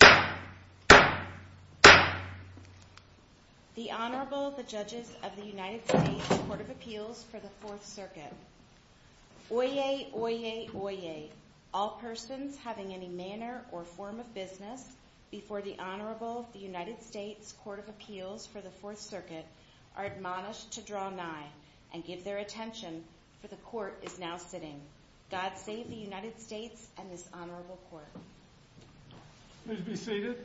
The Honorable, the Judges of the United States Court of Appeals for the Fourth Circuit. Oyez, oyez, oyez, all persons having any manner or form of business before the Honorable, the United States Court of Appeals for the Fourth Circuit are admonished to draw nigh and give their attention, for the Court is now sitting. God save the United States and this Honorable Court. Please be seated.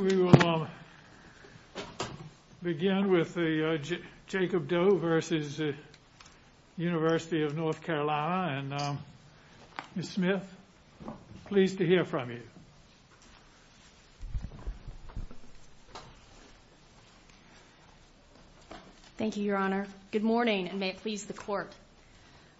We will begin with Jacob Doe v. The University of North Carolina. Ms. Smith, pleased to hear from you. Thank you, Your Honor. Good morning, and may it please the Court.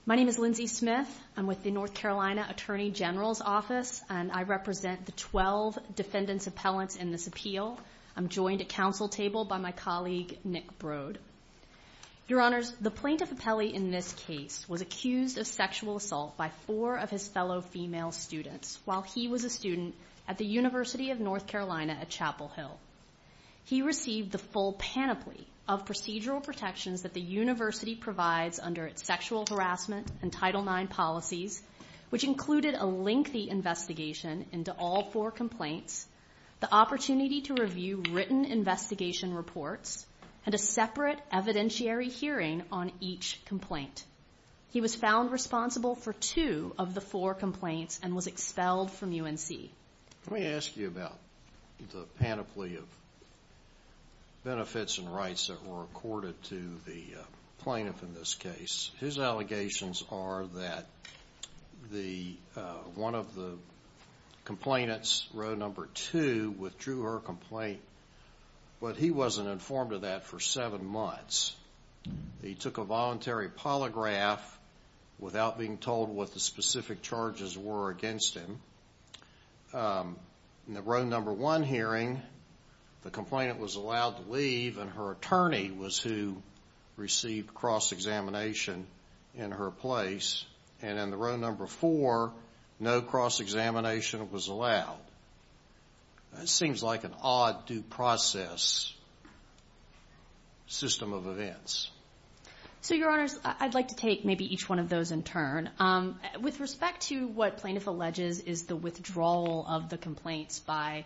My name is Lindsay Smith. I'm with the North Carolina Attorney General's Office, and I represent the 12 defendants appellants in this appeal. I'm joined at council table by my colleague, Nick Broad. Your Honors, the plaintiff appellee in this case was accused of sexual assault by four of his fellow female students while he was a student at the University of North Carolina at Chapel Hill. He received the full panoply of procedural protections that the university provides under its sexual harassment and Title IX policies, which included a lengthy investigation into all four complaints, the opportunity to review written investigation reports, and a separate evidentiary hearing on each complaint. He was found responsible for two of the four complaints and was expelled from UNC. Let me ask you about the panoply of benefits and rights that were accorded to the plaintiff in this case. His allegations are that one of the complainants, row number two, withdrew her complaint, but he wasn't informed of that for seven months. He took a voluntary polygraph without being told what the specific charges were against him. In the row number one hearing, the complainant was allowed to leave, and her attorney was who received cross-examination in her place. And in the row number four, no cross-examination was allowed. That seems like an odd due process system of events. So, Your Honors, I'd like to take maybe each one of those in turn. With respect to what plaintiff alleges is the withdrawal of the complaints by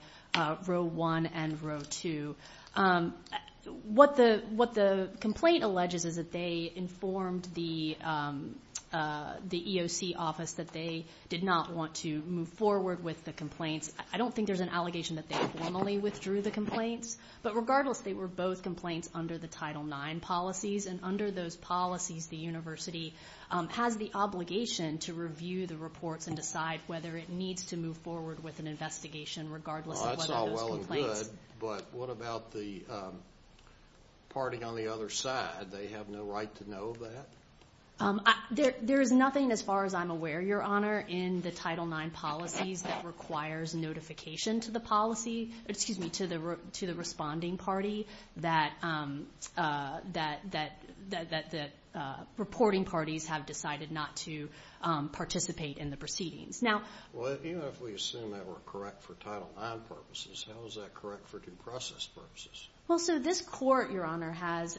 row one and row two, what the complaint alleges is that they informed the EOC office that they did not want to move forward with the complaints. I don't think there's an allegation that they formally withdrew the complaints, but regardless, they were both complaints under the Title IX policies. And under those policies, the university has the obligation to review the reports and decide whether it needs to move forward with an investigation regardless of whether those complaints… Well, that's all well and good, but what about the party on the other side? They have no right to know that? There is nothing, as far as I'm aware, Your Honor, in the Title IX policies that requires notification to the policy… Excuse me, to the responding party that the reporting parties have decided not to participate in the proceedings. Now… Well, even if we assume that we're correct for Title IX purposes, how is that correct for due process purposes? Well, so this court, Your Honor, has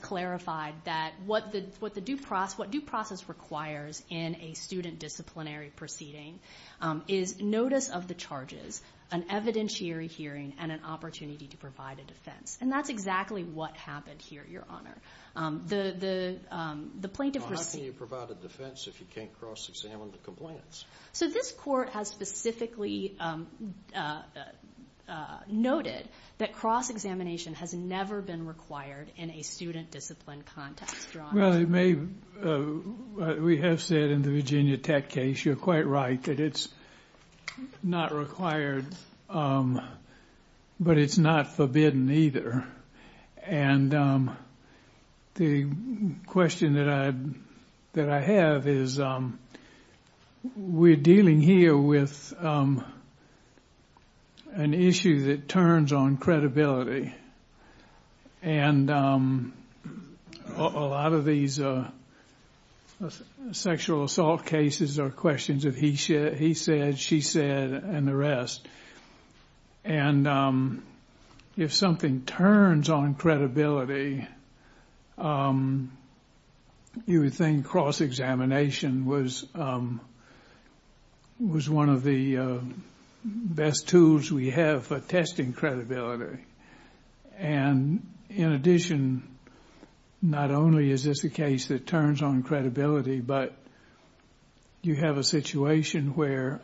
clarified that what due process requires in a student disciplinary proceeding is notice of the charges, an evidentiary hearing, and an opportunity to provide a defense. And that's exactly what happened here, Your Honor. How can you provide a defense if you can't cross-examine the complaints? So this court has specifically noted that cross-examination has never been required in a student discipline context, Your Honor. Well, it may… We have said in the Virginia Tech case, you're quite right, that it's not required, but it's not forbidden either. And the question that I have is we're dealing here with an issue that turns on credibility. And a lot of these sexual assault cases are questions of he said, she said, and the rest. And if something turns on credibility, you would think cross-examination was one of the best tools we have for testing credibility. And in addition, not only is this a case that turns on credibility, but you have a situation where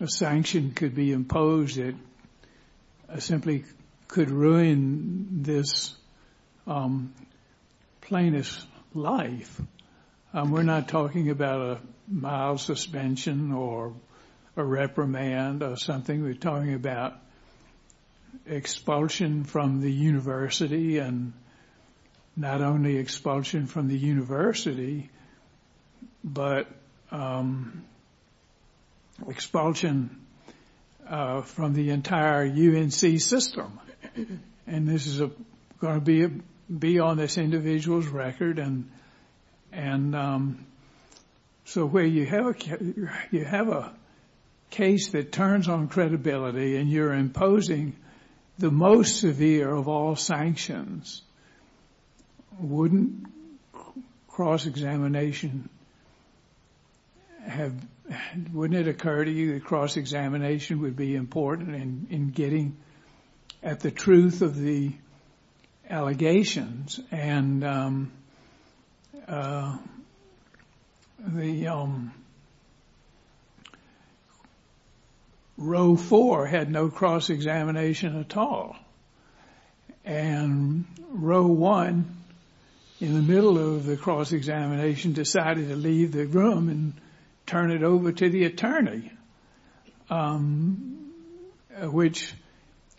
a sanction could be imposed that simply could ruin this plaintiff's life. We're not talking about a mild suspension or a reprimand or something. We're talking about expulsion from the university and not only expulsion from the university, but expulsion from the entire UNC system. And this is going to be on this individual's record. And so where you have a case that turns on credibility and you're imposing the most severe of all sanctions, wouldn't cross-examination have… Wouldn't it occur to you that cross-examination would be important in getting at the truth of the allegations? And the row four had no cross-examination at all. And row one, in the middle of the cross-examination, decided to leave the room and turn it over to the attorney, which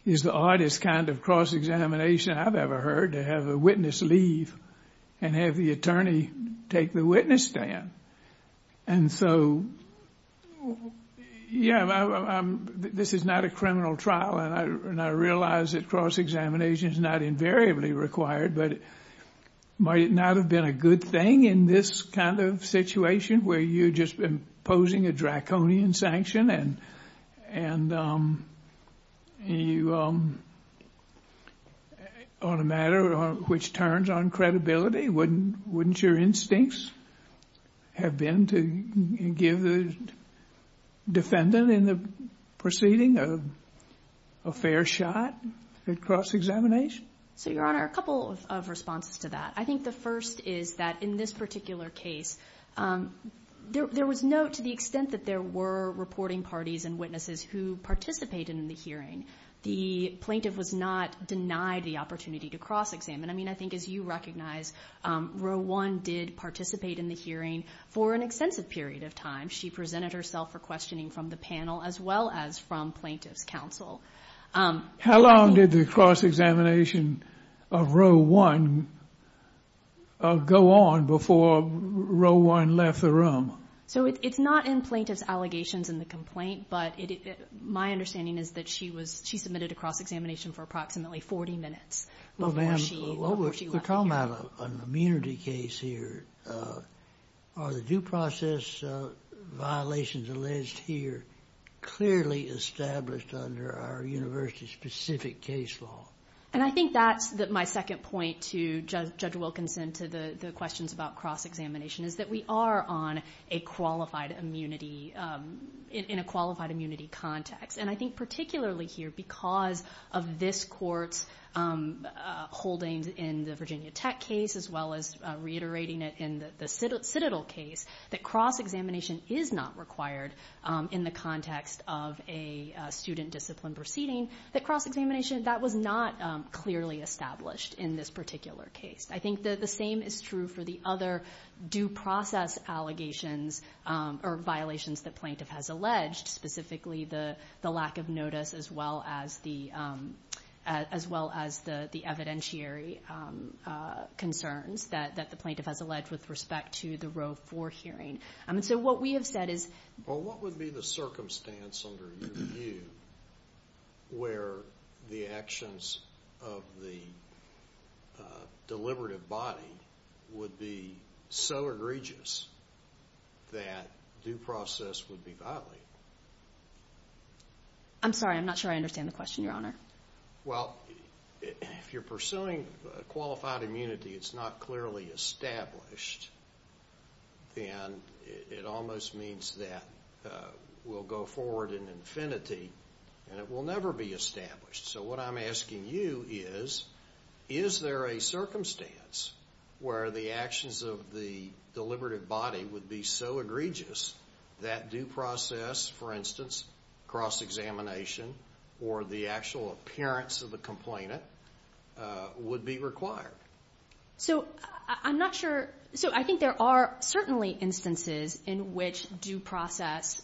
is the oddest kind of cross-examination I've ever heard, to have a witness leave and have the attorney take the witness stand. And so, yeah, this is not a criminal trial and I realize that cross-examination is not invariably required, but might it not have been a good thing in this kind of situation where you're just imposing a draconian sanction and you… On a matter which turns on credibility, wouldn't your instincts have been to give the defendant in the proceeding a fair shot at cross-examination? So, Your Honor, a couple of responses to that. I think the first is that in this particular case, there was no, to the extent that there were reporting parties and witnesses who participated in the hearing, the plaintiff was not denied the opportunity to cross-examine. I mean, I think as you recognize, row one did participate in the hearing for an extensive period of time. She presented herself for questioning from the panel as well as from plaintiff's counsel. How long did the cross-examination of row one go on before row one left the room? So it's not in plaintiff's allegations in the complaint, but my understanding is that she was, she submitted a cross-examination for approximately 40 minutes before she left the hearing. We're talking about an immunity case here. Are the due process violations alleged here clearly established under our university-specific case law? And I think that's my second point to Judge Wilkinson to the questions about cross-examination, is that we are on a qualified immunity, in a qualified immunity context. And I think particularly here because of this court's holdings in the Virginia Tech case, as well as reiterating it in the Citadel case, that cross-examination is not required in the context of a student discipline proceeding, that cross-examination, that was not clearly established in this particular case. I think that the same is true for the other due process allegations or violations that plaintiff has alleged, specifically the lack of notice as well as the evidentiary concerns that the plaintiff has alleged with respect to the row four hearing. And so what we have said is – Well, what would be the circumstance under your view where the actions of the deliberative body would be so egregious that due process would be violated? I'm sorry. I'm not sure I understand the question, Your Honor. Well, if you're pursuing qualified immunity, it's not clearly established. And it almost means that we'll go forward in infinity and it will never be established. So what I'm asking you is, is there a circumstance where the actions of the deliberative body would be so egregious that due process, for instance, cross-examination or the actual appearance of the complainant would be required? So I'm not sure. So I think there are certainly instances in which due process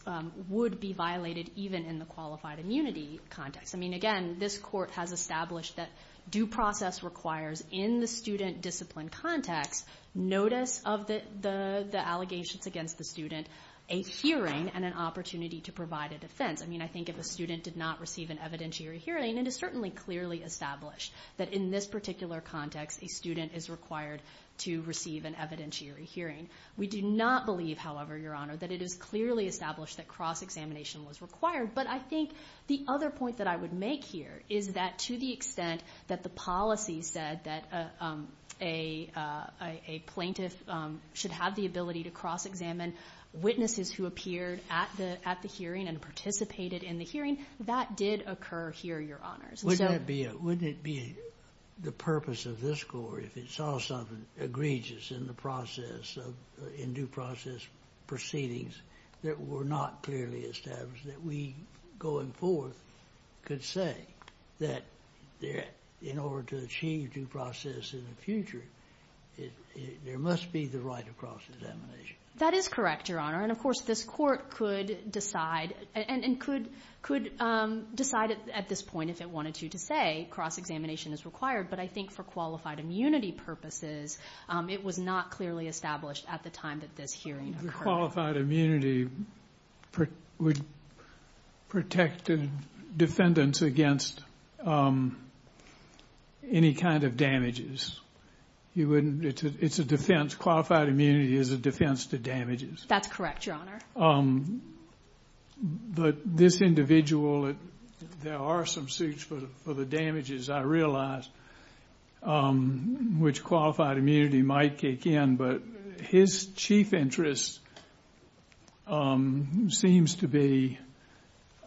would be violated, even in the qualified immunity context. I mean, again, this Court has established that due process requires in the student discipline context notice of the allegations against the student, a hearing, and an opportunity to provide a defense. I mean, I think if a student did not receive an evidentiary hearing, it is certainly clearly established that in this particular context, a student is required to receive an evidentiary hearing. We do not believe, however, Your Honor, that it is clearly established that cross-examination was required. But I think the other point that I would make here is that to the extent that the policy said that a plaintiff should have the ability to cross-examine witnesses who appeared at the hearing and participated in the hearing, that did occur here, Your Honors. Wouldn't it be the purpose of this Court if it saw something egregious in the process, in due process proceedings that were not clearly established that we, going forth, could say that in order to achieve due process in the future, there must be the right of cross-examination? That is correct, Your Honor. And, of course, this Court could decide at this point if it wanted to to say cross-examination is required. But I think for qualified immunity purposes, it was not clearly established at the time that this hearing occurred. Qualified immunity would protect defendants against any kind of damages. It's a defense. Qualified immunity is a defense to damages. That's correct, Your Honor. But this individual, there are some suits for the damages, I realize, which qualified immunity might kick in. But his chief interest seems to be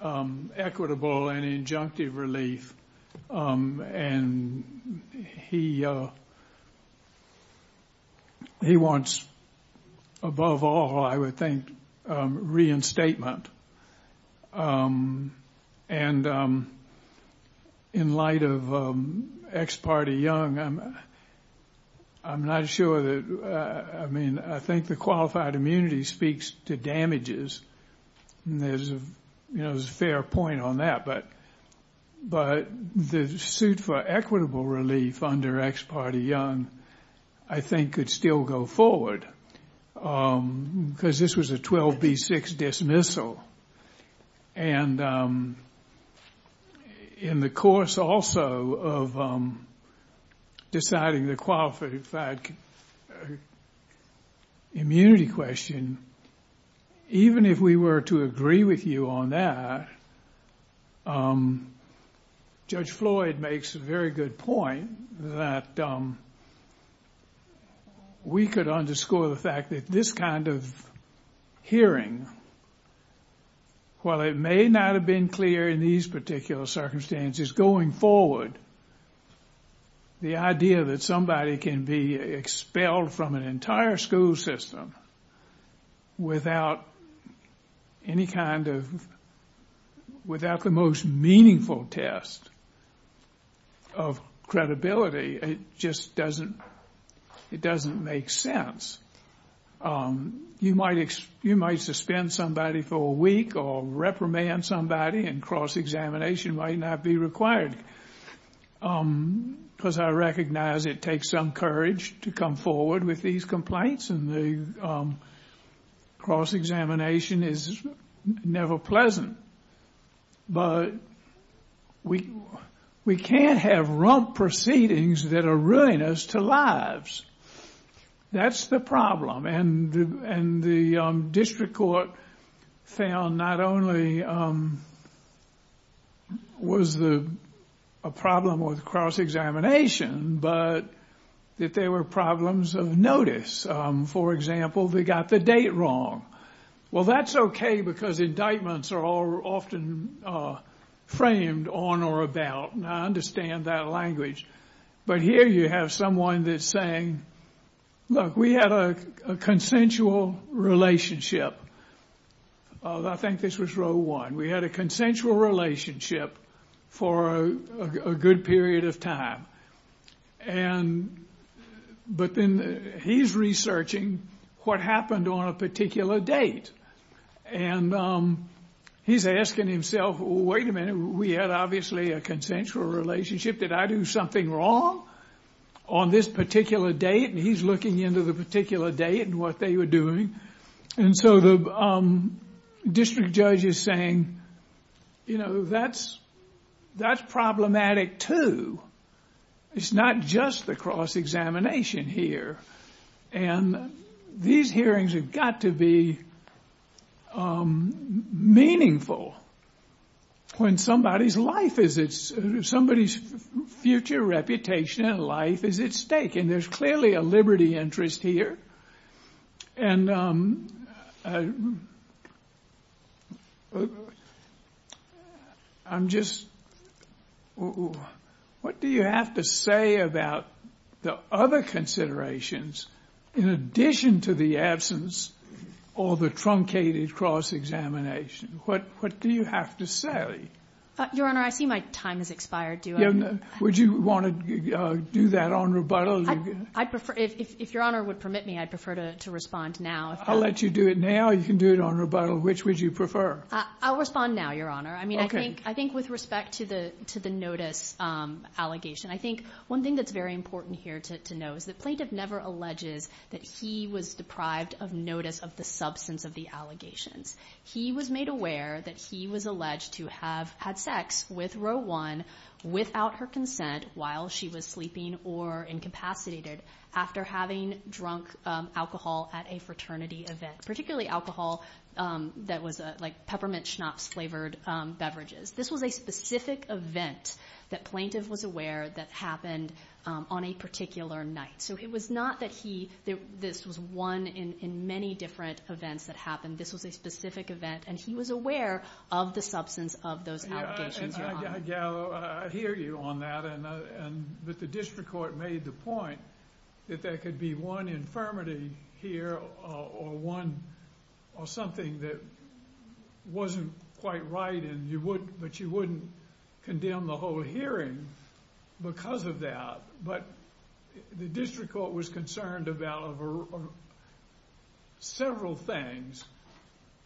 equitable and injunctive relief. And he wants, above all, I would think, reinstatement. And in light of ex parte young, I'm not sure that, I mean, I think the qualified immunity speaks to damages. And there's a fair point on that. But the suit for equitable relief under ex parte young, I think, could still go forward. Because this was a 12B6 dismissal. And in the course, also, of deciding the qualified immunity question, even if we were to agree with you on that, Judge Floyd makes a very good point that we could underscore the fact that this kind of hearing, while it may not have been clear in these particular circumstances going forward, the idea that somebody can be expelled from an entire school system without any kind of, without the most meaningful test of credibility, it just doesn't, it doesn't make sense. You might suspend somebody for a week or reprimand somebody, and cross-examination might not be required. Because I recognize it takes some courage to come forward with these complaints, and the cross-examination is never pleasant. But we can't have rump proceedings that are ruinous to lives. That's the problem. And the district court found not only was the problem with cross-examination, but that there were problems of notice. For example, they got the date wrong. Well, that's okay, because indictments are often framed on or about. And I understand that language. But here you have someone that's saying, look, we had a consensual relationship. I think this was row one. We had a consensual relationship for a good period of time. And, but then he's researching what happened on a particular date. And he's asking himself, wait a minute, we had obviously a consensual relationship. Did I do something wrong on this particular date? And he's looking into the particular date and what they were doing. And so the district judge is saying, you know, that's problematic too. It's not just the cross-examination here. And these hearings have got to be meaningful. When somebody's life is at stake, somebody's future reputation in life is at stake. And there's clearly a liberty interest here. And I'm just, what do you have to say about the other considerations in addition to the absence or the truncated cross-examination? What do you have to say? Your Honor, I see my time has expired. Would you want to do that on rebuttal? I'd prefer, if Your Honor would permit me, I'd prefer to respond now. I'll let you do it now. You can do it on rebuttal. Which would you prefer? I'll respond now, Your Honor. Okay. I mean, I think with respect to the notice allegation, I think one thing that's very important here to know is the plaintiff never alleges that he was deprived of notice of the substance of the allegations. He was made aware that he was alleged to have had sex with Roe 1 without her consent while she was sleeping or incapacitated after having drunk alcohol at a fraternity event, particularly alcohol that was like peppermint schnapps-flavored beverages. This was a specific event that plaintiff was aware that happened on a particular night. So it was not that this was one in many different events that happened. This was a specific event. And he was aware of the substance of those allegations, Your Honor. I hear you on that, but the district court made the point that there could be one infirmity here or something that wasn't quite right, but you wouldn't condemn the whole hearing because of that. But the district court was concerned about several things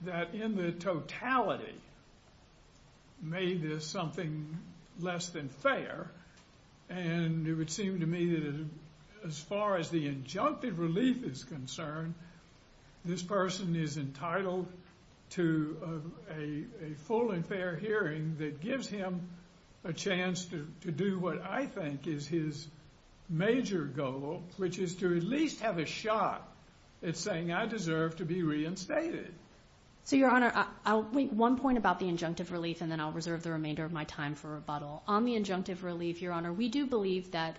that in the totality made this something less than fair. And it would seem to me that as far as the injunctive relief is concerned, this person is entitled to a full and fair hearing that gives him a chance to do what I think is his major goal, which is to at least have a shot at saying, I deserve to be reinstated. So, Your Honor, I'll make one point about the injunctive relief, and then I'll reserve the remainder of my time for rebuttal. On the injunctive relief, Your Honor, we do believe that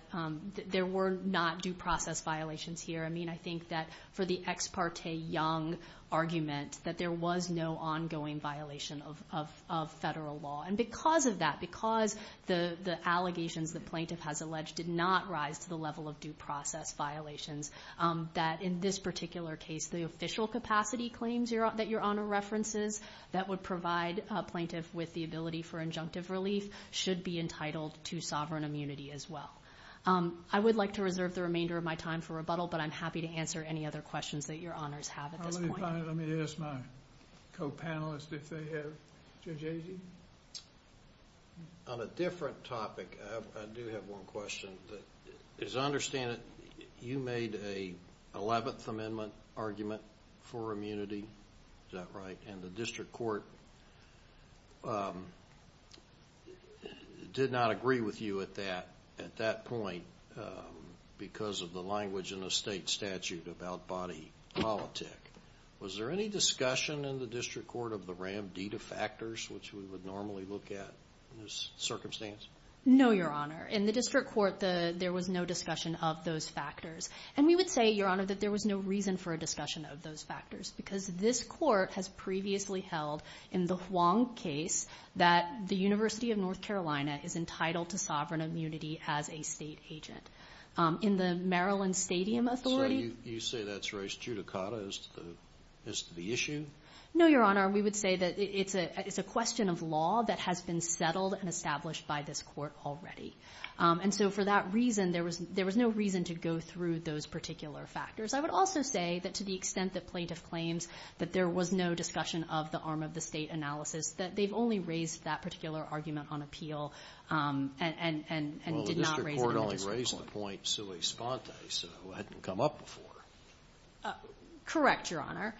there were not due process violations here. I mean, I think that for the ex parte young argument, that there was no ongoing violation of federal law. And because of that, because the allegations the plaintiff has alleged did not rise to the level of due process violations, that in this particular case, the official capacity claims that Your Honor references that would provide a plaintiff with the ability for injunctive relief should be entitled to sovereign immunity as well. I would like to reserve the remainder of my time for rebuttal, but I'm happy to answer any other questions that Your Honors have at this point. Let me ask my co-panelists if they have. Judge Agee? On a different topic, I do have one question. As I understand it, you made an 11th Amendment argument for immunity, is that right? And the district court did not agree with you at that point because of the language in the state statute about body politic. Was there any discussion in the district court of the RAMDEDA factors, which we would normally look at in this circumstance? No, Your Honor. In the district court, there was no discussion of those factors. And we would say, Your Honor, that there was no reason for a discussion of those factors because this court has previously held in the Huang case that the University of North Carolina is entitled to sovereign immunity as a state agent. In the Maryland Stadium Authority— So you say that's raised judicata as to the issue? No, Your Honor. We would say that it's a question of law that has been settled and established by this court already. And so for that reason, there was no reason to go through those particular factors. I would also say that to the extent that plaintiff claims that there was no discussion of the arm of the state analysis, that they've only raised that particular argument on appeal and did not raise it in the district court. Well, the district court only raised the point sui sponte, so it hadn't come up before. Correct, Your Honor.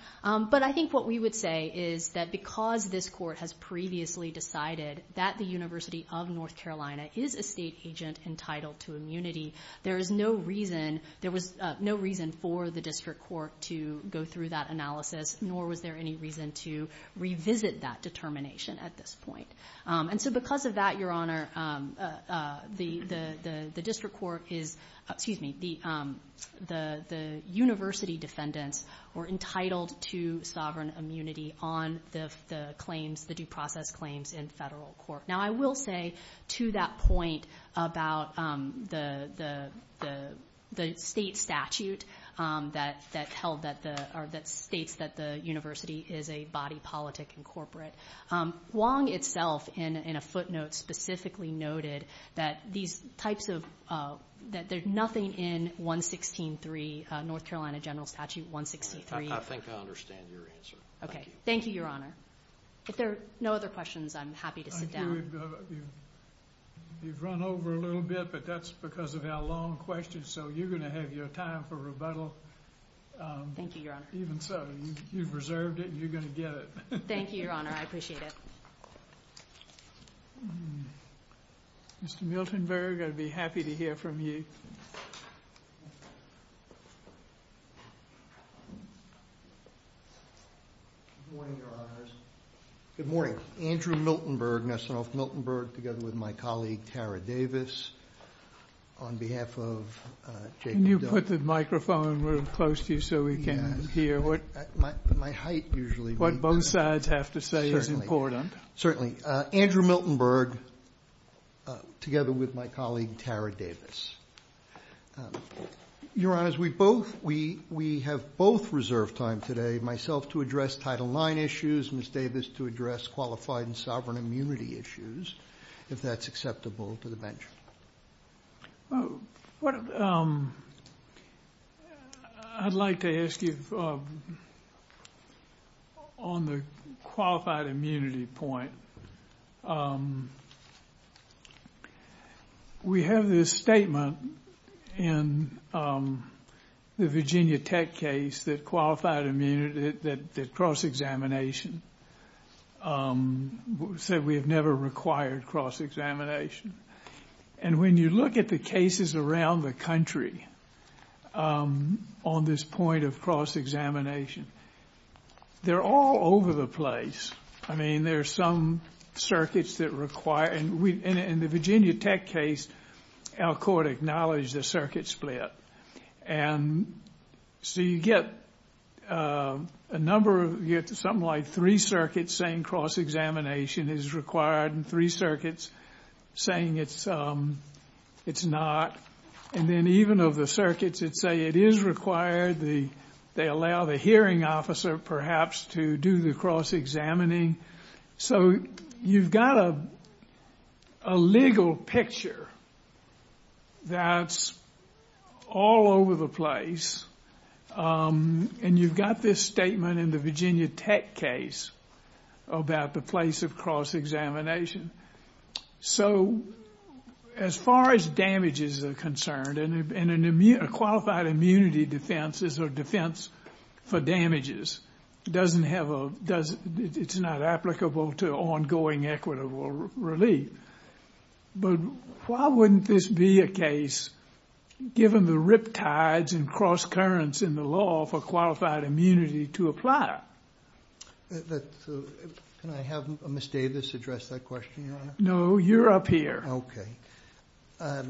But I think what we would say is that because this court has previously decided that the University of North Carolina is a state agent entitled to immunity, there is no reason—there was no reason for the district court to go through that analysis, nor was there any reason to revisit that determination at this point. And so because of that, Your Honor, the district court is—excuse me, the university defendants were entitled to sovereign immunity on the claims, the due process claims in federal court. Now, I will say to that point about the state statute that held that the— or that states that the university is a body politic and corporate. Wong itself in a footnote specifically noted that these types of— that there's nothing in 116.3, North Carolina General Statute 116.3. I think I understand your answer. Okay. Thank you, Your Honor. If there are no other questions, I'm happy to sit down. You've run over a little bit, but that's because of our long questions, so you're going to have your time for rebuttal. Thank you, Your Honor. Even so, you've reserved it and you're going to get it. Thank you, Your Honor. I appreciate it. Mr. Miltenberg, I'd be happy to hear from you. Good morning, Your Honors. Good morning. Andrew Miltenberg, Nassaroff Miltenberg, together with my colleague, Tara Davis, on behalf of Jacob— Can you put the microphone real close to you so we can hear? My height usually— What both sides have to say is important. Certainly. Andrew Miltenberg, together with my colleague, Tara Davis. Your Honors, we have both reserved time today, myself to address Title IX issues, Ms. Davis to address qualified and sovereign immunity issues, if that's acceptable to the bench. Well, I'd like to ask you on the qualified immunity point. We have this statement in the Virginia Tech case that qualified immunity, that cross-examination, said we have never required cross-examination. And when you look at the cases around the country on this point of cross-examination, they're all over the place. I mean, there are some circuits that require— In the Virginia Tech case, our court acknowledged the circuit split. And so you get a number of—you get something like three circuits saying cross-examination is required and three circuits saying it's not. And then even of the circuits that say it is required, they allow the hearing officer, perhaps, to do the cross-examining. So you've got a legal picture that's all over the place. And you've got this statement in the Virginia Tech case about the place of cross-examination. So as far as damages are concerned, a qualified immunity defense is a defense for damages. It doesn't have a—it's not applicable to ongoing equitable relief. But why wouldn't this be a case, given the riptides and cross-currents in the law, for qualified immunity to apply? Can I have Ms. Davis address that question, Your Honor? No, you're up here. Okay.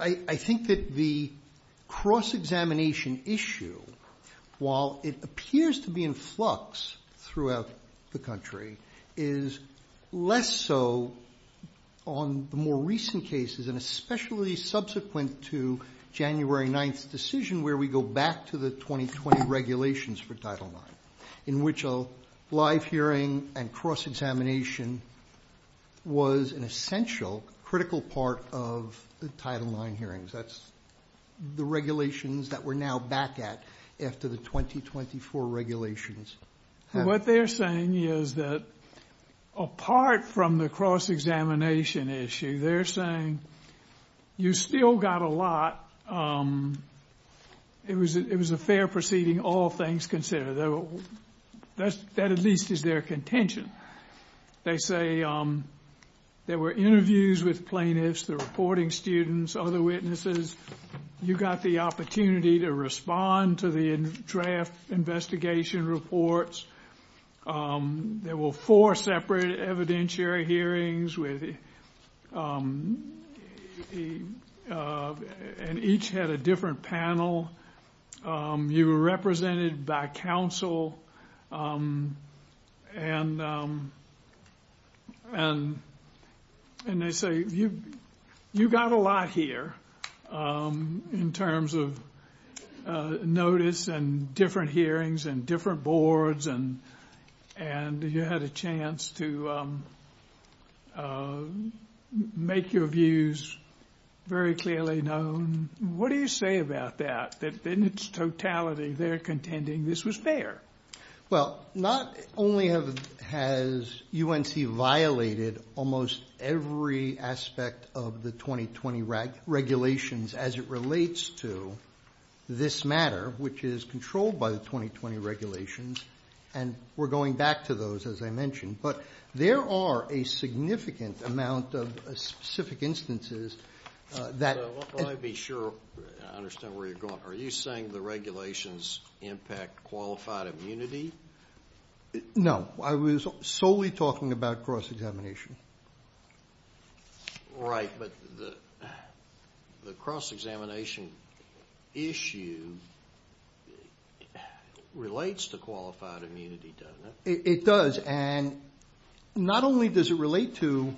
I think that the cross-examination issue, while it appears to be in flux throughout the country, is less so on the more recent cases and especially subsequent to January 9th's decision, where we go back to the 2020 regulations for Title IX, in which a live hearing and cross-examination was an essential, critical part of the Title IX hearings. That's the regulations that we're now back at after the 2024 regulations. What they're saying is that apart from the cross-examination issue, they're saying you still got a lot. It was a fair proceeding, all things considered. That at least is their contention. They say there were interviews with plaintiffs, the reporting students, other witnesses. You got the opportunity to respond to the draft investigation reports. There were four separate evidentiary hearings, and each had a different panel. You were represented by counsel, and they say you got a lot here in terms of notice and different hearings and different boards, and you had a chance to make your views very clearly known. What do you say about that, that in its totality they're contending this was fair? Well, not only has UNC violated almost every aspect of the 2020 regulations as it relates to this matter, which is controlled by the 2020 regulations, and we're going back to those, as I mentioned, but there are a significant amount of specific instances that I want to be sure I understand where you're going. Are you saying the regulations impact qualified immunity? No. I was solely talking about cross-examination. Right, but the cross-examination issue relates to qualified immunity, doesn't it? It does, and not only does it relate to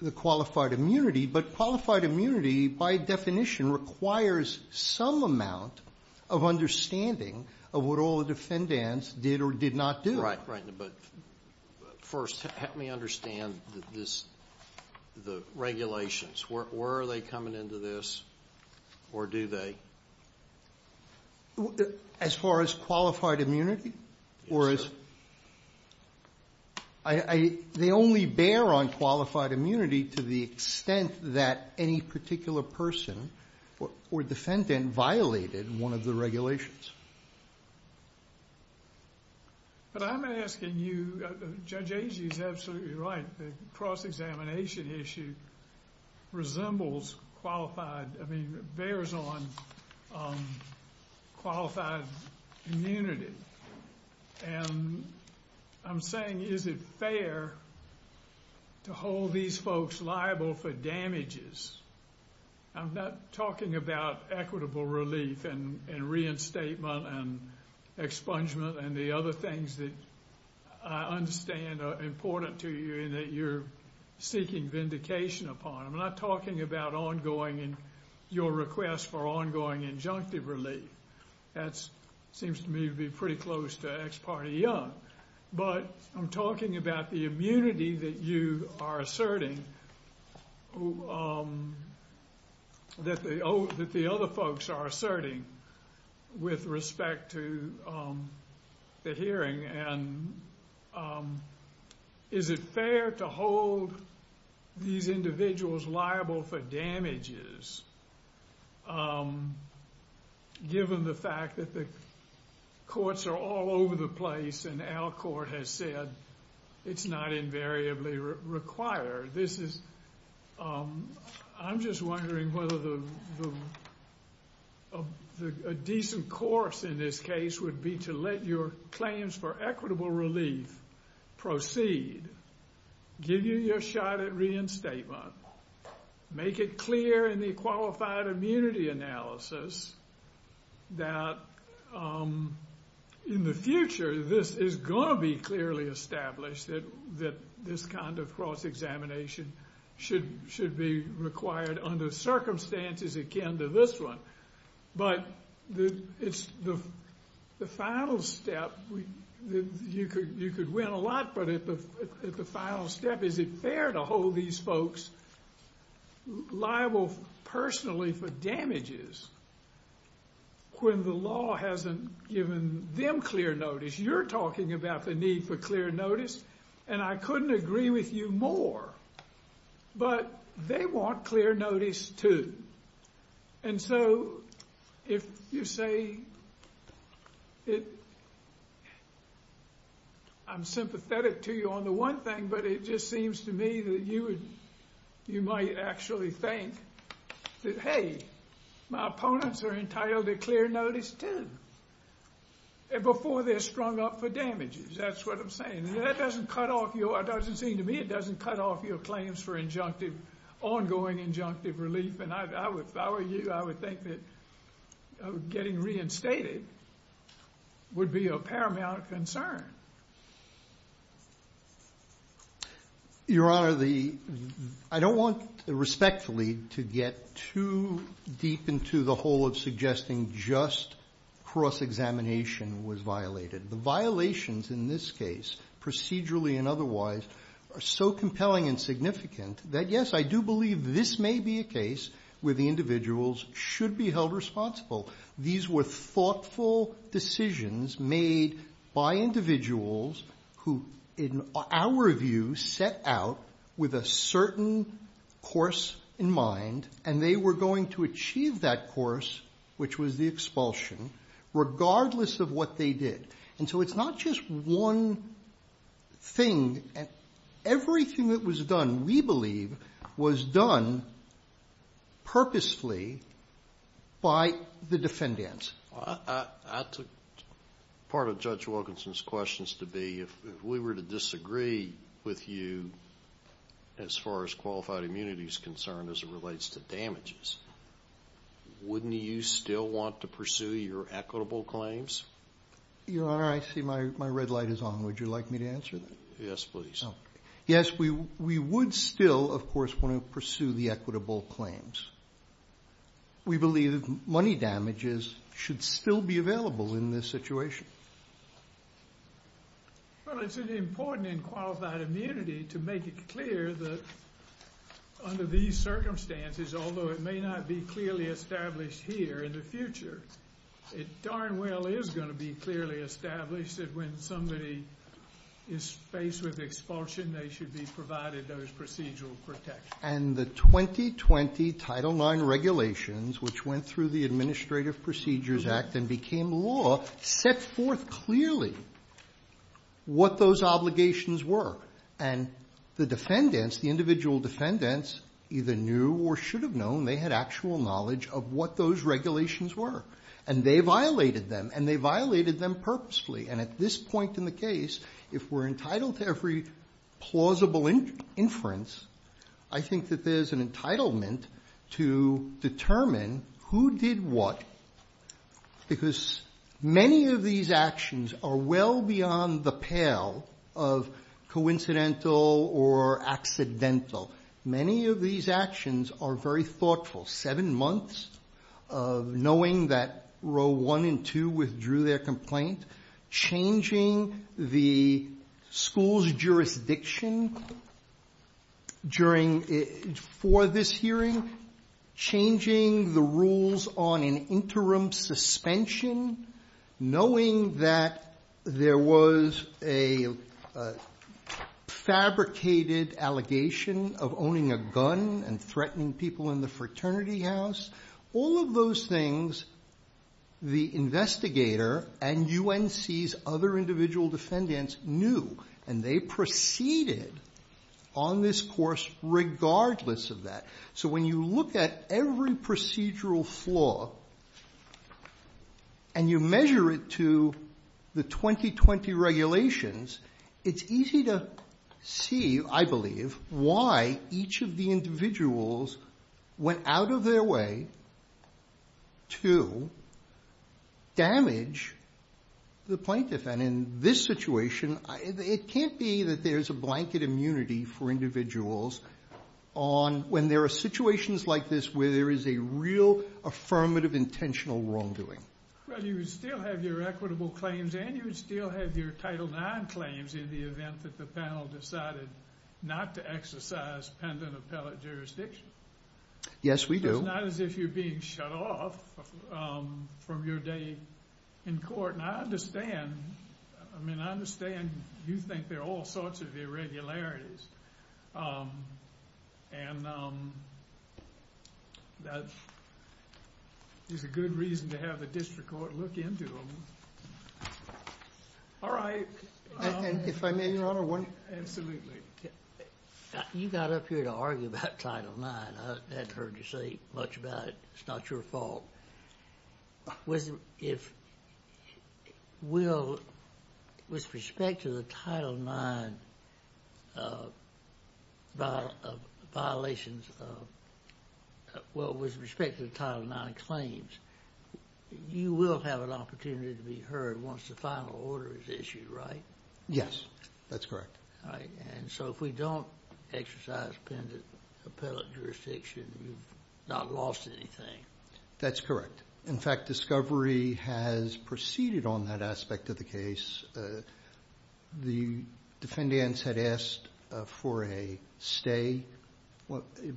the qualified immunity, but qualified immunity, by definition, requires some amount of understanding of what all the defendants did or did not do. Right, but first, help me understand the regulations. Were they coming into this, or do they? As far as qualified immunity? Yes, sir. They only bear on qualified immunity to the extent that any particular person or defendant violated one of the regulations. But I'm asking you, Judge Agee is absolutely right. The cross-examination issue resembles qualified, I mean, bears on qualified immunity. And I'm saying, is it fair to hold these folks liable for damages? I'm not talking about equitable relief and reinstatement and expungement and the other things that I understand are important to you and that you're seeking vindication upon. I'm not talking about ongoing and your request for ongoing injunctive relief. That seems to me to be pretty close to ex parte young. But I'm talking about the immunity that you are asserting, that the other folks are asserting, with respect to the hearing. And is it fair to hold these individuals liable for damages, given the fact that the courts are all over the place and our court has said it's not invariably required? This is, I'm just wondering whether a decent course in this case would be to let your claims for equitable relief proceed, give you your shot at reinstatement, make it clear in the qualified immunity analysis that in the future this is going to be clearly established, that this kind of cross-examination should be required under circumstances akin to this one. But it's the final step. You could win a lot, but at the final step, is it fair to hold these folks liable personally for damages when the law hasn't given them clear notice? You're talking about the need for clear notice and I couldn't agree with you more. But they want clear notice too. And so, if you say, I'm sympathetic to you on the one thing, but it just seems to me that you might actually think that, hey, my opponents are entitled to clear notice too. Before they're strung up for damages, that's what I'm saying. And that doesn't cut off your, it doesn't seem to me it doesn't cut off your claims for injunctive, ongoing injunctive relief. And I would, if I were you, I would think that getting reinstated would be a paramount concern. Your Honor, the, I don't want respectfully to get too deep into the whole of suggesting just cross-examination was violated. The violations in this case, procedurally and otherwise, are so compelling and significant that yes, I do believe this may be a case where the individuals should be held responsible. These were thoughtful decisions made by individuals who, in our view, set out with a certain course in mind and they were going to achieve that course, which was the expulsion, regardless of what they did. And so it's not just one thing. Everything that was done, we believe, was done purposefully by the defendants. I took part of Judge Wilkinson's questions to be, if we were to disagree with you, as far as qualified immunity is concerned as it relates to damages, wouldn't you still want to pursue your equitable claims? Your Honor, I see my red light is on. Would you like me to answer that? Yes, please. Yes, we would still, of course, want to pursue the equitable claims. We believe money damages should still be available in this situation. Well, it's important in qualified immunity to make it clear that under these circumstances, although it may not be clearly established here in the future, it darn well is going to be clearly established that when somebody is faced with expulsion, they should be provided those procedural protections. And the 2020 Title IX regulations, which went through the Administrative Procedures Act and became law, set forth clearly what those obligations were. And the defendants, the individual defendants, either knew or should have known, they had actual knowledge of what those regulations were. And they violated them, and they violated them purposefully. And at this point in the case, if we're entitled to every plausible inference, I think that there's an entitlement to determine who did what. Because many of these actions are well beyond the pale of coincidental or accidental. Many of these actions are very thoughtful. Seven months of knowing that Row 1 and 2 withdrew their complaint, changing the school's jurisdiction for this hearing, changing the rules on an interim suspension, knowing that there was a fabricated allegation of owning a gun and threatening people in the fraternity house, all of those things the investigator and UNC's other individual defendants knew. And they proceeded on this course regardless of that. So when you look at every procedural flaw and you measure it to the 2020 regulations, it's easy to see, I believe, why each of the individuals went out of their way to damage the plaintiff. And in this situation, it can't be that there's a blanket immunity for individuals when there are situations like this where there is a real affirmative intentional wrongdoing. Well, you would still have your equitable claims and you would still have your Title IX claims in the event that the panel decided not to exercise pendant appellate jurisdiction. Yes, we do. It's not as if you're being shut off from your day in court. And I understand. I mean, I understand you think there are all sorts of irregularities. And that is a good reason to have the district court look into them. All right. If I may, Your Honor, one thing. Absolutely. You got up here to argue about Title IX. I hadn't heard you say much about it. It's not your fault. With respect to the Title IX claims, you will have an opportunity to be heard once the final order is issued, right? Yes, that's correct. All right. And so if we don't exercise pendant appellate jurisdiction, you've not lost anything. That's correct. In fact, discovery has proceeded on that aspect of the case. The defendants had asked for a stay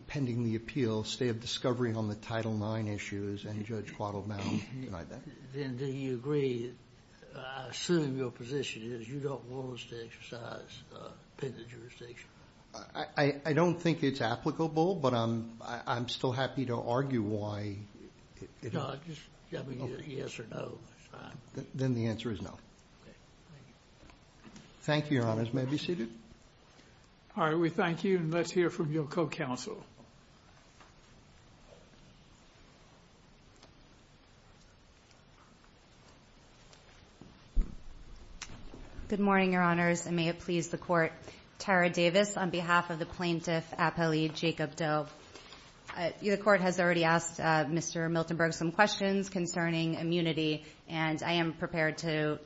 pending the appeal, stay of discovery on the Title IX issues, and Judge Quattle-Mountain denied that. Then do you agree? I assume your position is you don't want us to exercise pendant jurisdiction. I don't think it's applicable, but I'm still happy to argue why. Just tell me yes or no. Then the answer is no. Okay. Thank you. Thank you, Your Honors. May I be seated? All right. We thank you, and let's hear from your co-counsel. Good morning, Your Honors, and may it please the Court. Tara Davis on behalf of the Plaintiff Appellee Jacob Doe. The Court has already asked Mr. Miltenberg some questions concerning immunity, and I am prepared to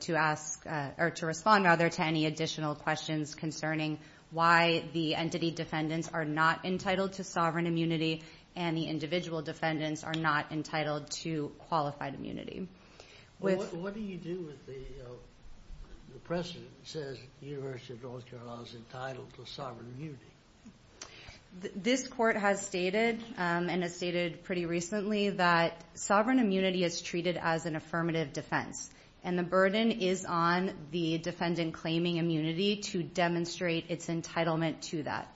respond to any additional questions concerning why the entity defendants are not entitled to sovereign immunity and the individual defendants are not entitled to qualified immunity. What do you do if the precedent says the University of North Carolina is entitled to sovereign immunity? This Court has stated, and has stated pretty recently, that sovereign immunity is treated as an affirmative defense, and the burden is on the defendant claiming immunity to demonstrate its entitlement to that.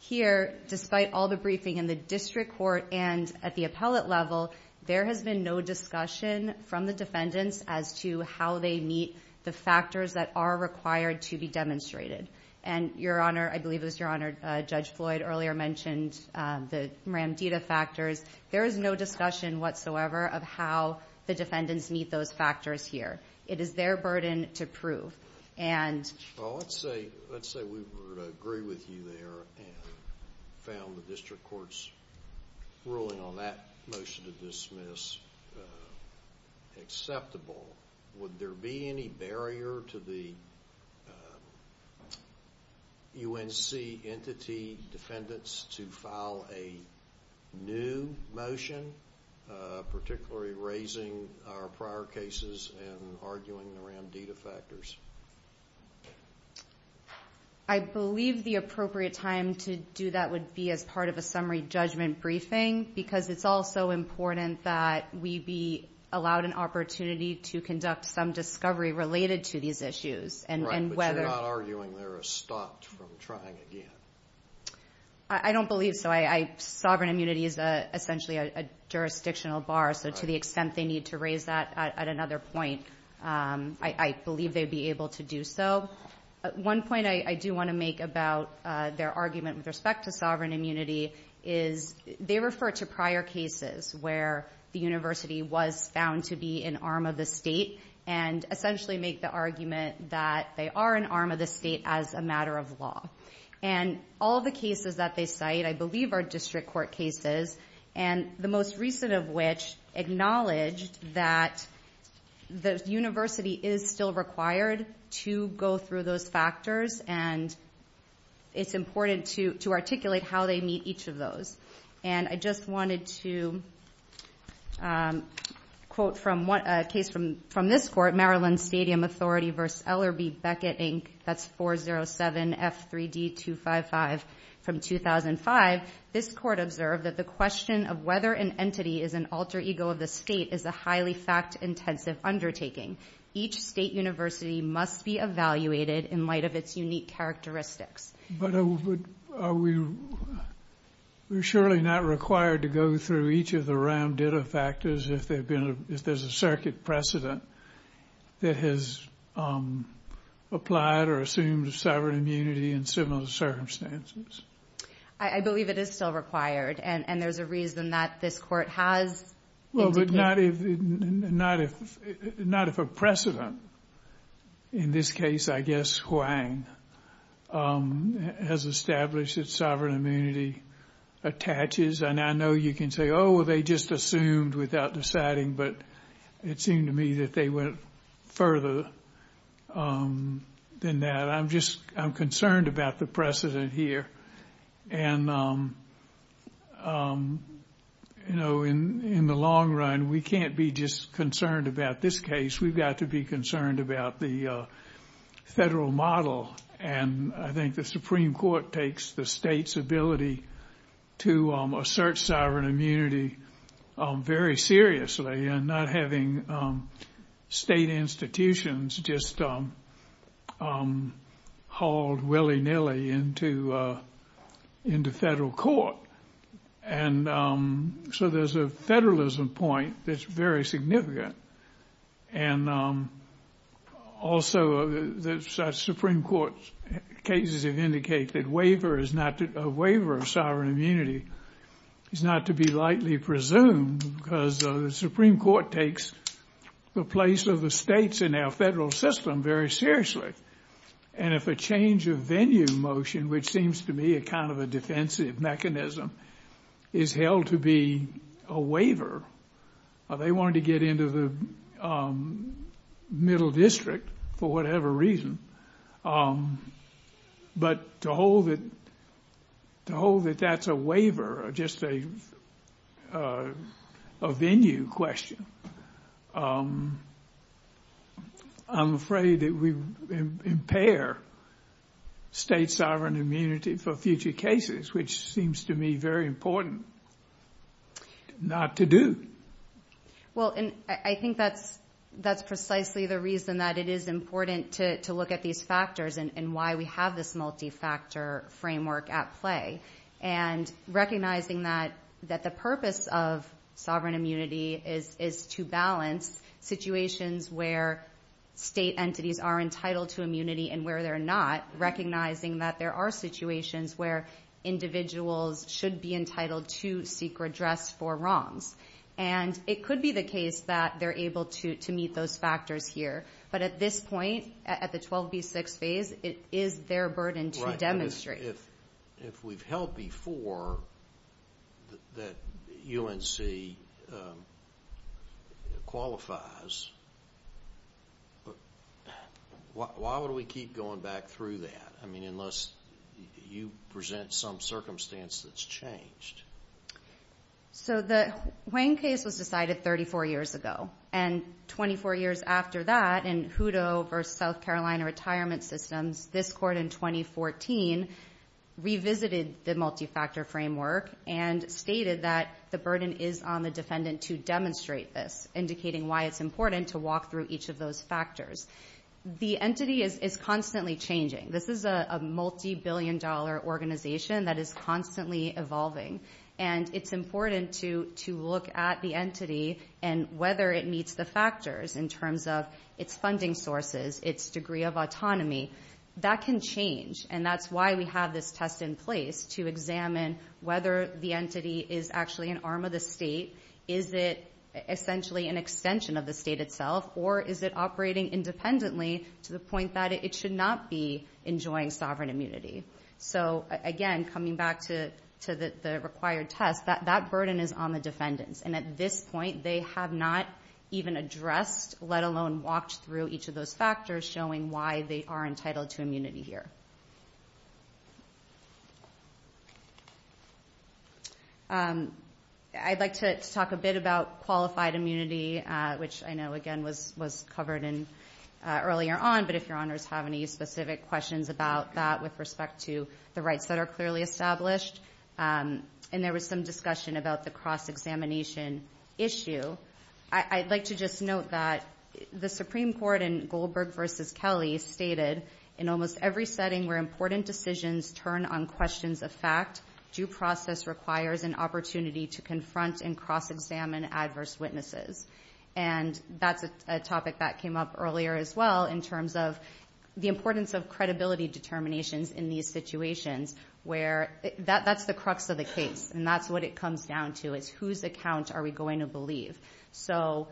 Here, despite all the briefing in the district court and at the appellate level, there has been no discussion from the defendants as to how they meet the factors that are required to be demonstrated. And, Your Honor, I believe it was Your Honor, Judge Floyd earlier mentioned the Ramdita factors. There is no discussion whatsoever of how the defendants meet those factors here. It is their burden to prove, and... Well, let's say we were to agree with you there and found the district court's ruling on that motion to dismiss acceptable. Would there be any barrier to the UNC entity defendants to file a new motion, particularly raising our prior cases and arguing around Ramdita factors? I believe the appropriate time to do that would be as part of a summary judgment briefing, because it's also important that we be allowed an opportunity to conduct some discovery related to these issues. Right, but you're not arguing they're stopped from trying again. I don't believe so. Sovereign immunity is essentially a jurisdictional bar, so to the extent they need to raise that at another point, I believe they'd be able to do so. One point I do want to make about their argument with respect to sovereign immunity is they refer to prior cases where the university was found to be an arm of the state and essentially make the argument that they are an arm of the state as a matter of law. And all the cases that they cite, I believe, are district court cases, and the most recent of which acknowledged that the university is still required to go through those factors, and it's important to articulate how they meet each of those. And I just wanted to quote from a case from this court, Maryland Stadium Authority v. Ellerbe Beckett, Inc. That's 407 F3D255 from 2005. This court observed that the question of whether an entity is an alter ego of the state is a highly fact-intensive undertaking. Each state university must be evaluated in light of its unique characteristics. But are we surely not required to go through each of the round data factors if there's a circuit precedent that has applied or assumed sovereign immunity in similar circumstances? I believe it is still required, and there's a reason that this court has indicated. Well, but not if a precedent, in this case, I guess, Hwang, has established that sovereign immunity attaches. And I know you can say, oh, well, they just assumed without deciding, but it seemed to me that they went further than that. I'm just concerned about the precedent here. And, you know, in the long run, we can't be just concerned about this case. We've got to be concerned about the federal model. And I think the Supreme Court takes the state's ability to assert sovereign immunity very seriously and not having state institutions just hauled willy-nilly into federal court. And so there's a federalism point that's very significant. And also the Supreme Court's cases have indicated that a waiver of sovereign immunity is not to be lightly presumed because the Supreme Court takes the place of the states in our federal system very seriously. And if a change of venue motion, which seems to me a kind of a defensive mechanism, is held to be a waiver, they wanted to get into the middle district for whatever reason, but to hold that that's a waiver or just a venue question, I'm afraid that we impair state sovereign immunity for future cases, which seems to me very important not to do. Well, and I think that's precisely the reason that it is important to look at these factors and why we have this multi-factor framework at play and recognizing that the purpose of sovereign immunity is to balance situations where state entities are entitled to immunity and where they're not, recognizing that there are situations where individuals should be entitled to seek redress for wrongs. And it could be the case that they're able to meet those factors here. But at this point, at the 12B6 phase, it is their burden to demonstrate. If we've held before that UNC qualifies, why would we keep going back through that? I mean, unless you present some circumstance that's changed. So the Wayne case was decided 34 years ago, and 24 years after that in Hutto v. South Carolina Retirement Systems, this court in 2014 revisited the multi-factor framework and stated that the burden is on the defendant to demonstrate this, indicating why it's important to walk through each of those factors. The entity is constantly changing. This is a multibillion-dollar organization that is constantly evolving, and it's important to look at the entity and whether it meets the factors in terms of its funding sources, its degree of autonomy. That can change, and that's why we have this test in place to examine whether the entity is actually an arm of the state, is it essentially an extension of the state itself, or is it operating independently to the point that it should not be enjoying sovereign immunity. Again, coming back to the required test, that burden is on the defendants, and at this point they have not even addressed, let alone walked through each of those factors showing why they are entitled to immunity here. I'd like to talk a bit about qualified immunity, which I know, again, was covered earlier on, but if your honors have any specific questions about that with respect to the rights that are clearly established, and there was some discussion about the cross-examination issue, I'd like to just note that the Supreme Court in Goldberg v. Kelly stated, in almost every setting where important decisions turn on questions of fact, due process requires an opportunity to confront and cross-examine adverse witnesses. And that's a topic that came up earlier as well, in terms of the importance of credibility determinations in these situations, where that's the crux of the case, and that's what it comes down to, is whose account are we going to believe. So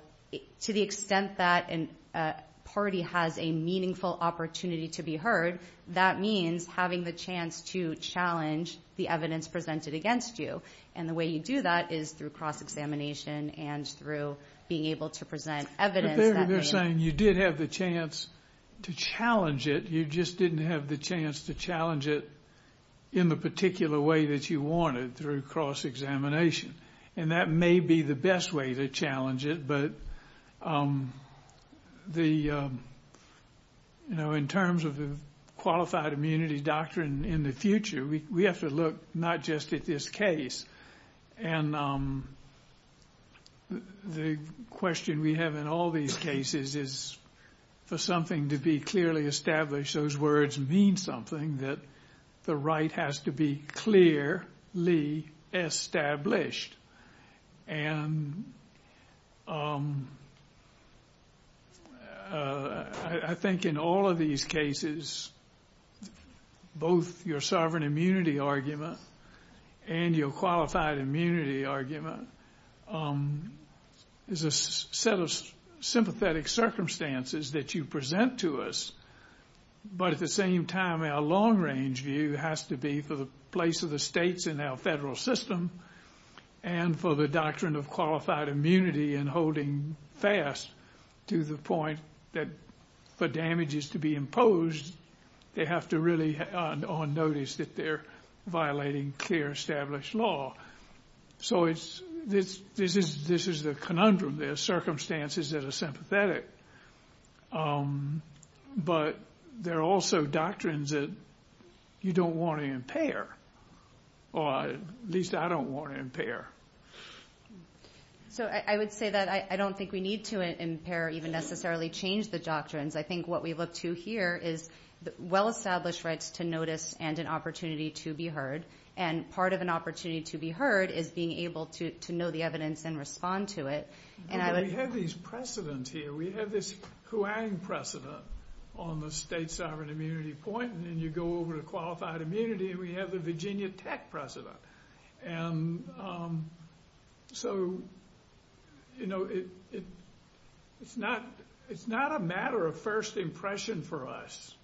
to the extent that a party has a meaningful opportunity to be heard, that means having the chance to challenge the evidence presented against you, and the way you do that is through cross-examination and through being able to present evidence. But they're saying you did have the chance to challenge it, you just didn't have the chance to challenge it in the particular way that you wanted, through cross-examination. And that may be the best way to challenge it, but in terms of the qualified immunity doctrine in the future, we have to look not just at this case, and the question we have in all these cases is, for something to be clearly established, those words mean something, that the right has to be clearly established. And I think in all of these cases, both your sovereign immunity argument and your qualified immunity argument, is a set of sympathetic circumstances that you present to us, but at the same time our long-range view has to be for the place of the states in our federal system, and for the doctrine of qualified immunity and holding fast, to the point that for damages to be imposed, they have to really on notice that they're violating clear established law. So this is the conundrum, there are circumstances that are sympathetic, but there are also doctrines that you don't want to impair, or at least I don't want to impair. So I would say that I don't think we need to impair or even necessarily change the doctrines. I think what we look to here is well-established rights to notice and an opportunity to be heard, and part of an opportunity to be heard is being able to know the evidence and respond to it. We have these precedents here, we have this Kuang precedent on the state sovereign immunity point, and then you go over to qualified immunity and we have the Virginia Tech precedent. It's not a matter of first impression for us.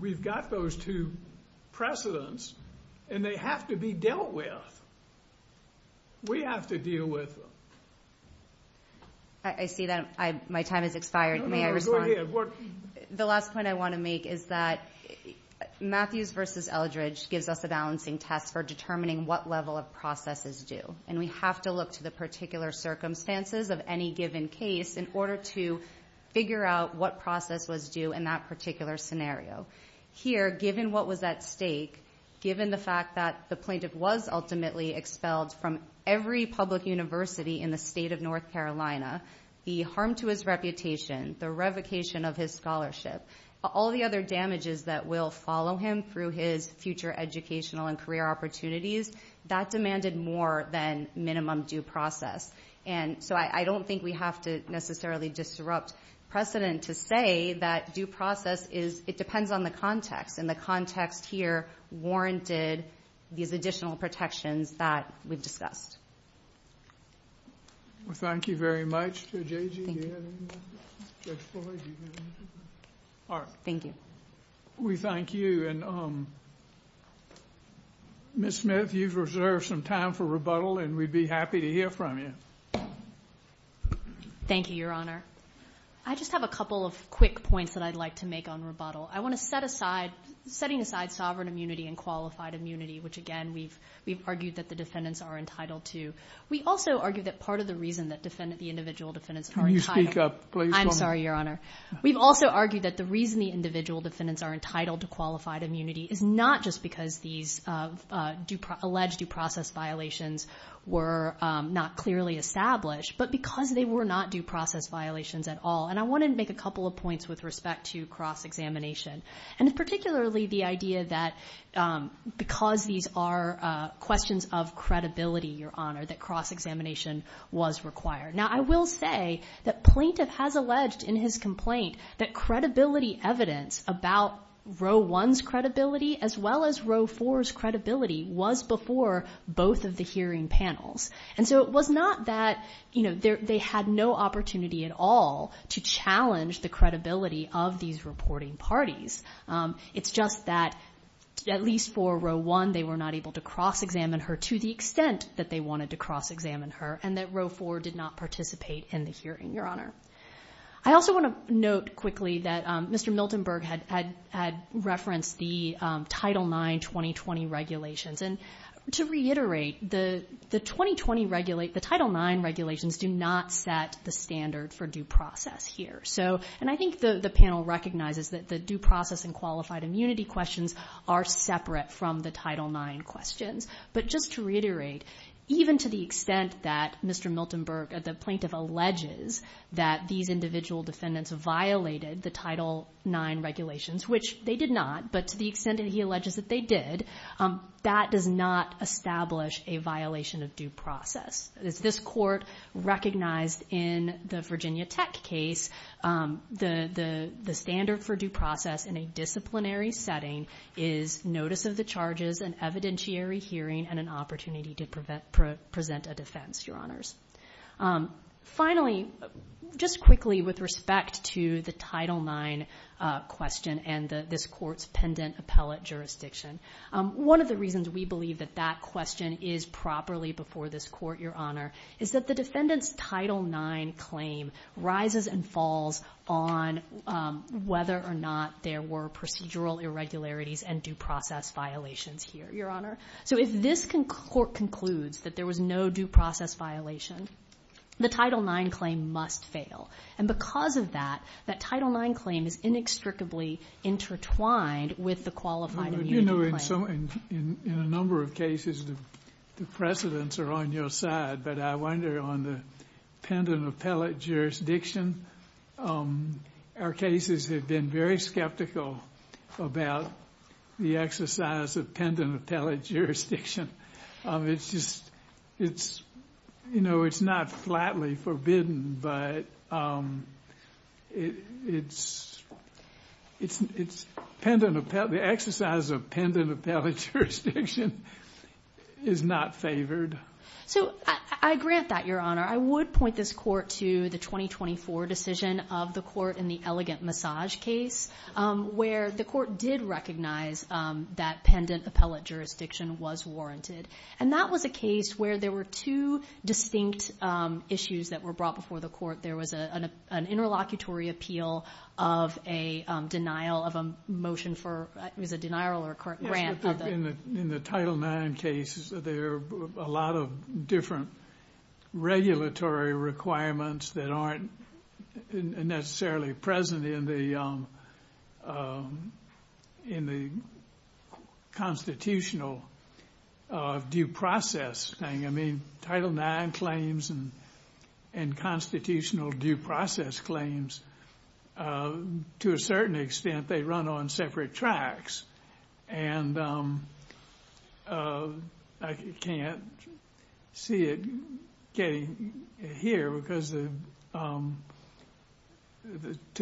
We've got those two precedents and they have to be dealt with. We have to deal with them. I see that my time has expired. The last point I want to make is that Matthews v. Eldridge gives us a balancing test for determining what level of processes do, and we have to look to the particular circumstances of any given case in order to figure out what process was due in that particular scenario. Here, given what was at stake, given the fact that the plaintiff was ultimately expelled from every public university in the state of North Carolina, the harm to his reputation, the revocation of his scholarship, all the other damages that will follow him through his future educational and career opportunities, that demanded more than minimum due process. I don't think we have to necessarily disrupt precedent to say that due process depends on the context, and the context here warranted these additional protections that we've discussed. Thank you very much. Ms. Smith, you've reserved some time for rebuttal and we'd be happy to hear from you. Thank you, Your Honor. I just have a couple of quick points that I'd like to make on rebuttal. I want to set aside, setting aside sovereign immunity and qualified immunity, which, again, we've argued that the defendants are entitled to. We also argue that part of the reason that the individual defendants are entitled... Can you speak up, please? I'm sorry, Your Honor. We've also argued that the reason the individual defendants are entitled to qualified immunity is not just because these alleged due process violations were not clearly established, but because they were not due process violations at all. And I wanted to make a couple of points with respect to cross-examination, and particularly the idea that because these are questions of credibility, Your Honor, that cross-examination was required. Now, I will say that Plaintiff has alleged in his complaint that credibility evidence about Row 1's credibility as well as Row 4's credibility was before both of the hearing panels. And so it was not that they had no opportunity at all to challenge the credibility of these reporting parties. It's just that at least for Row 1, they were not able to cross-examine her to the extent that they wanted to cross-examine her, and that Row 4 did not participate in the hearing, Your Honor. I also want to note quickly that Mr. Miltonberg had referenced the Title IX 2020 regulations. And to reiterate, the Title IX regulations do not set the standard for due process here. And I think the panel recognizes that the due process and qualified immunity questions are separate from the Title IX questions. But just to reiterate, even to the extent that Mr. Miltonberg, the plaintiff, alleges that these individual defendants violated the Title IX regulations, which they did not, but to the extent that he alleges that they did, that does not establish a violation of due process. As this Court recognized in the Virginia Tech case, the standard for due process in a disciplinary setting is notice of the charges, an evidentiary hearing, and an opportunity to present a defense, Your Honors. Finally, just quickly with respect to the Title IX question and this Court's pendant appellate jurisdiction. One of the reasons we believe that that question is properly before this Court, Your Honor, is that the defendant's Title IX claim rises and falls on whether or not there were procedural irregularities and due process violations here, Your Honor. So if this Court concludes that there was no due process violation, the Title IX claim must fail. And because of that, that Title IX claim is inextricably intertwined with the qualified immunity claim. In a number of cases, the precedents are on your side, but I wonder on the pendant appellate jurisdiction. Our cases have been very skeptical about the exercise of pendant appellate jurisdiction. It's just, you know, it's not flatly forbidden, but it's pendant appellate, the exercise of pendant appellate jurisdiction is not favored. So I grant that, Your Honor. I would point this Court to the 2024 decision of the Court in the elegant massage case, where the Court did recognize that pendant appellate jurisdiction was warranted. And that was a case where there were two cases before the Court. There was an interlocutory appeal of a denial of a motion for, it was a denial or grant. In the Title IX cases, there are a lot of different regulatory requirements that aren't necessarily present in the constitutional due process thing. I mean, Title IX claims and constitutional due process claims, to a certain extent, they run on separate tracks. And I can't see it getting here, because to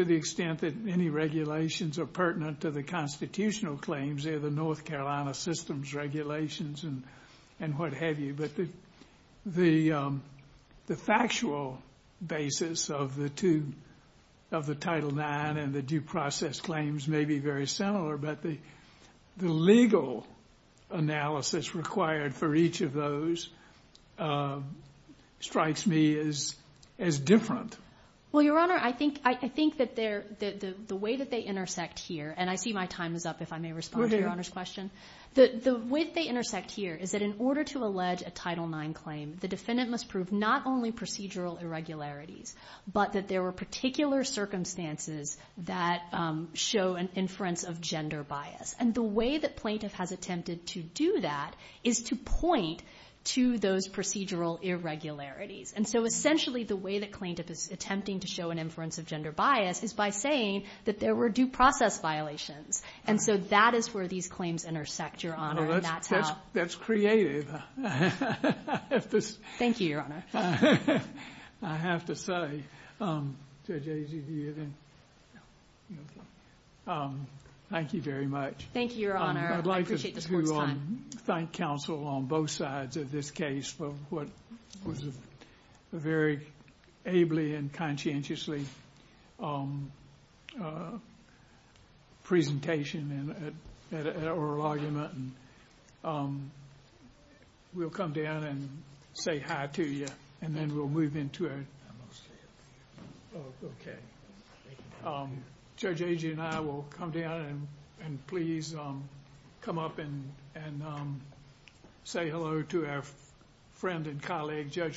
the extent that any regulations are pertinent to the constitutional claims, they're the North Carolina systems regulations and what have you. But the factual basis of the Title IX and the due process claims may be very similar, but the legal analysis required for each of those strikes me as different. Well, Your Honor, I think that the way that they intersect here, and I see my time is up, if I may respond to Your Honor's question. The way that they intersect here is that in order to allege a Title IX claim, the defendant must prove not only procedural irregularities, but that there were particular circumstances that show an inference of gender bias. And the way that plaintiff has attempted to do that is to point to those procedural irregularities. And so essentially the way that plaintiff is attempting to show an inference of gender bias is by saying that there were due process violations. And so that is where these claims intersect, Your Honor. That's creative. Thank you, Your Honor. I have to say, thank you very much. I'd like to thank counsel on both sides of this case for what was a very ably and conscientiously presentation and oral argument. We'll come down and say hi to you, and then we'll move into our... Judge Agee and I will come down and please come up and say hello to our friend and colleague, Judge Floyd.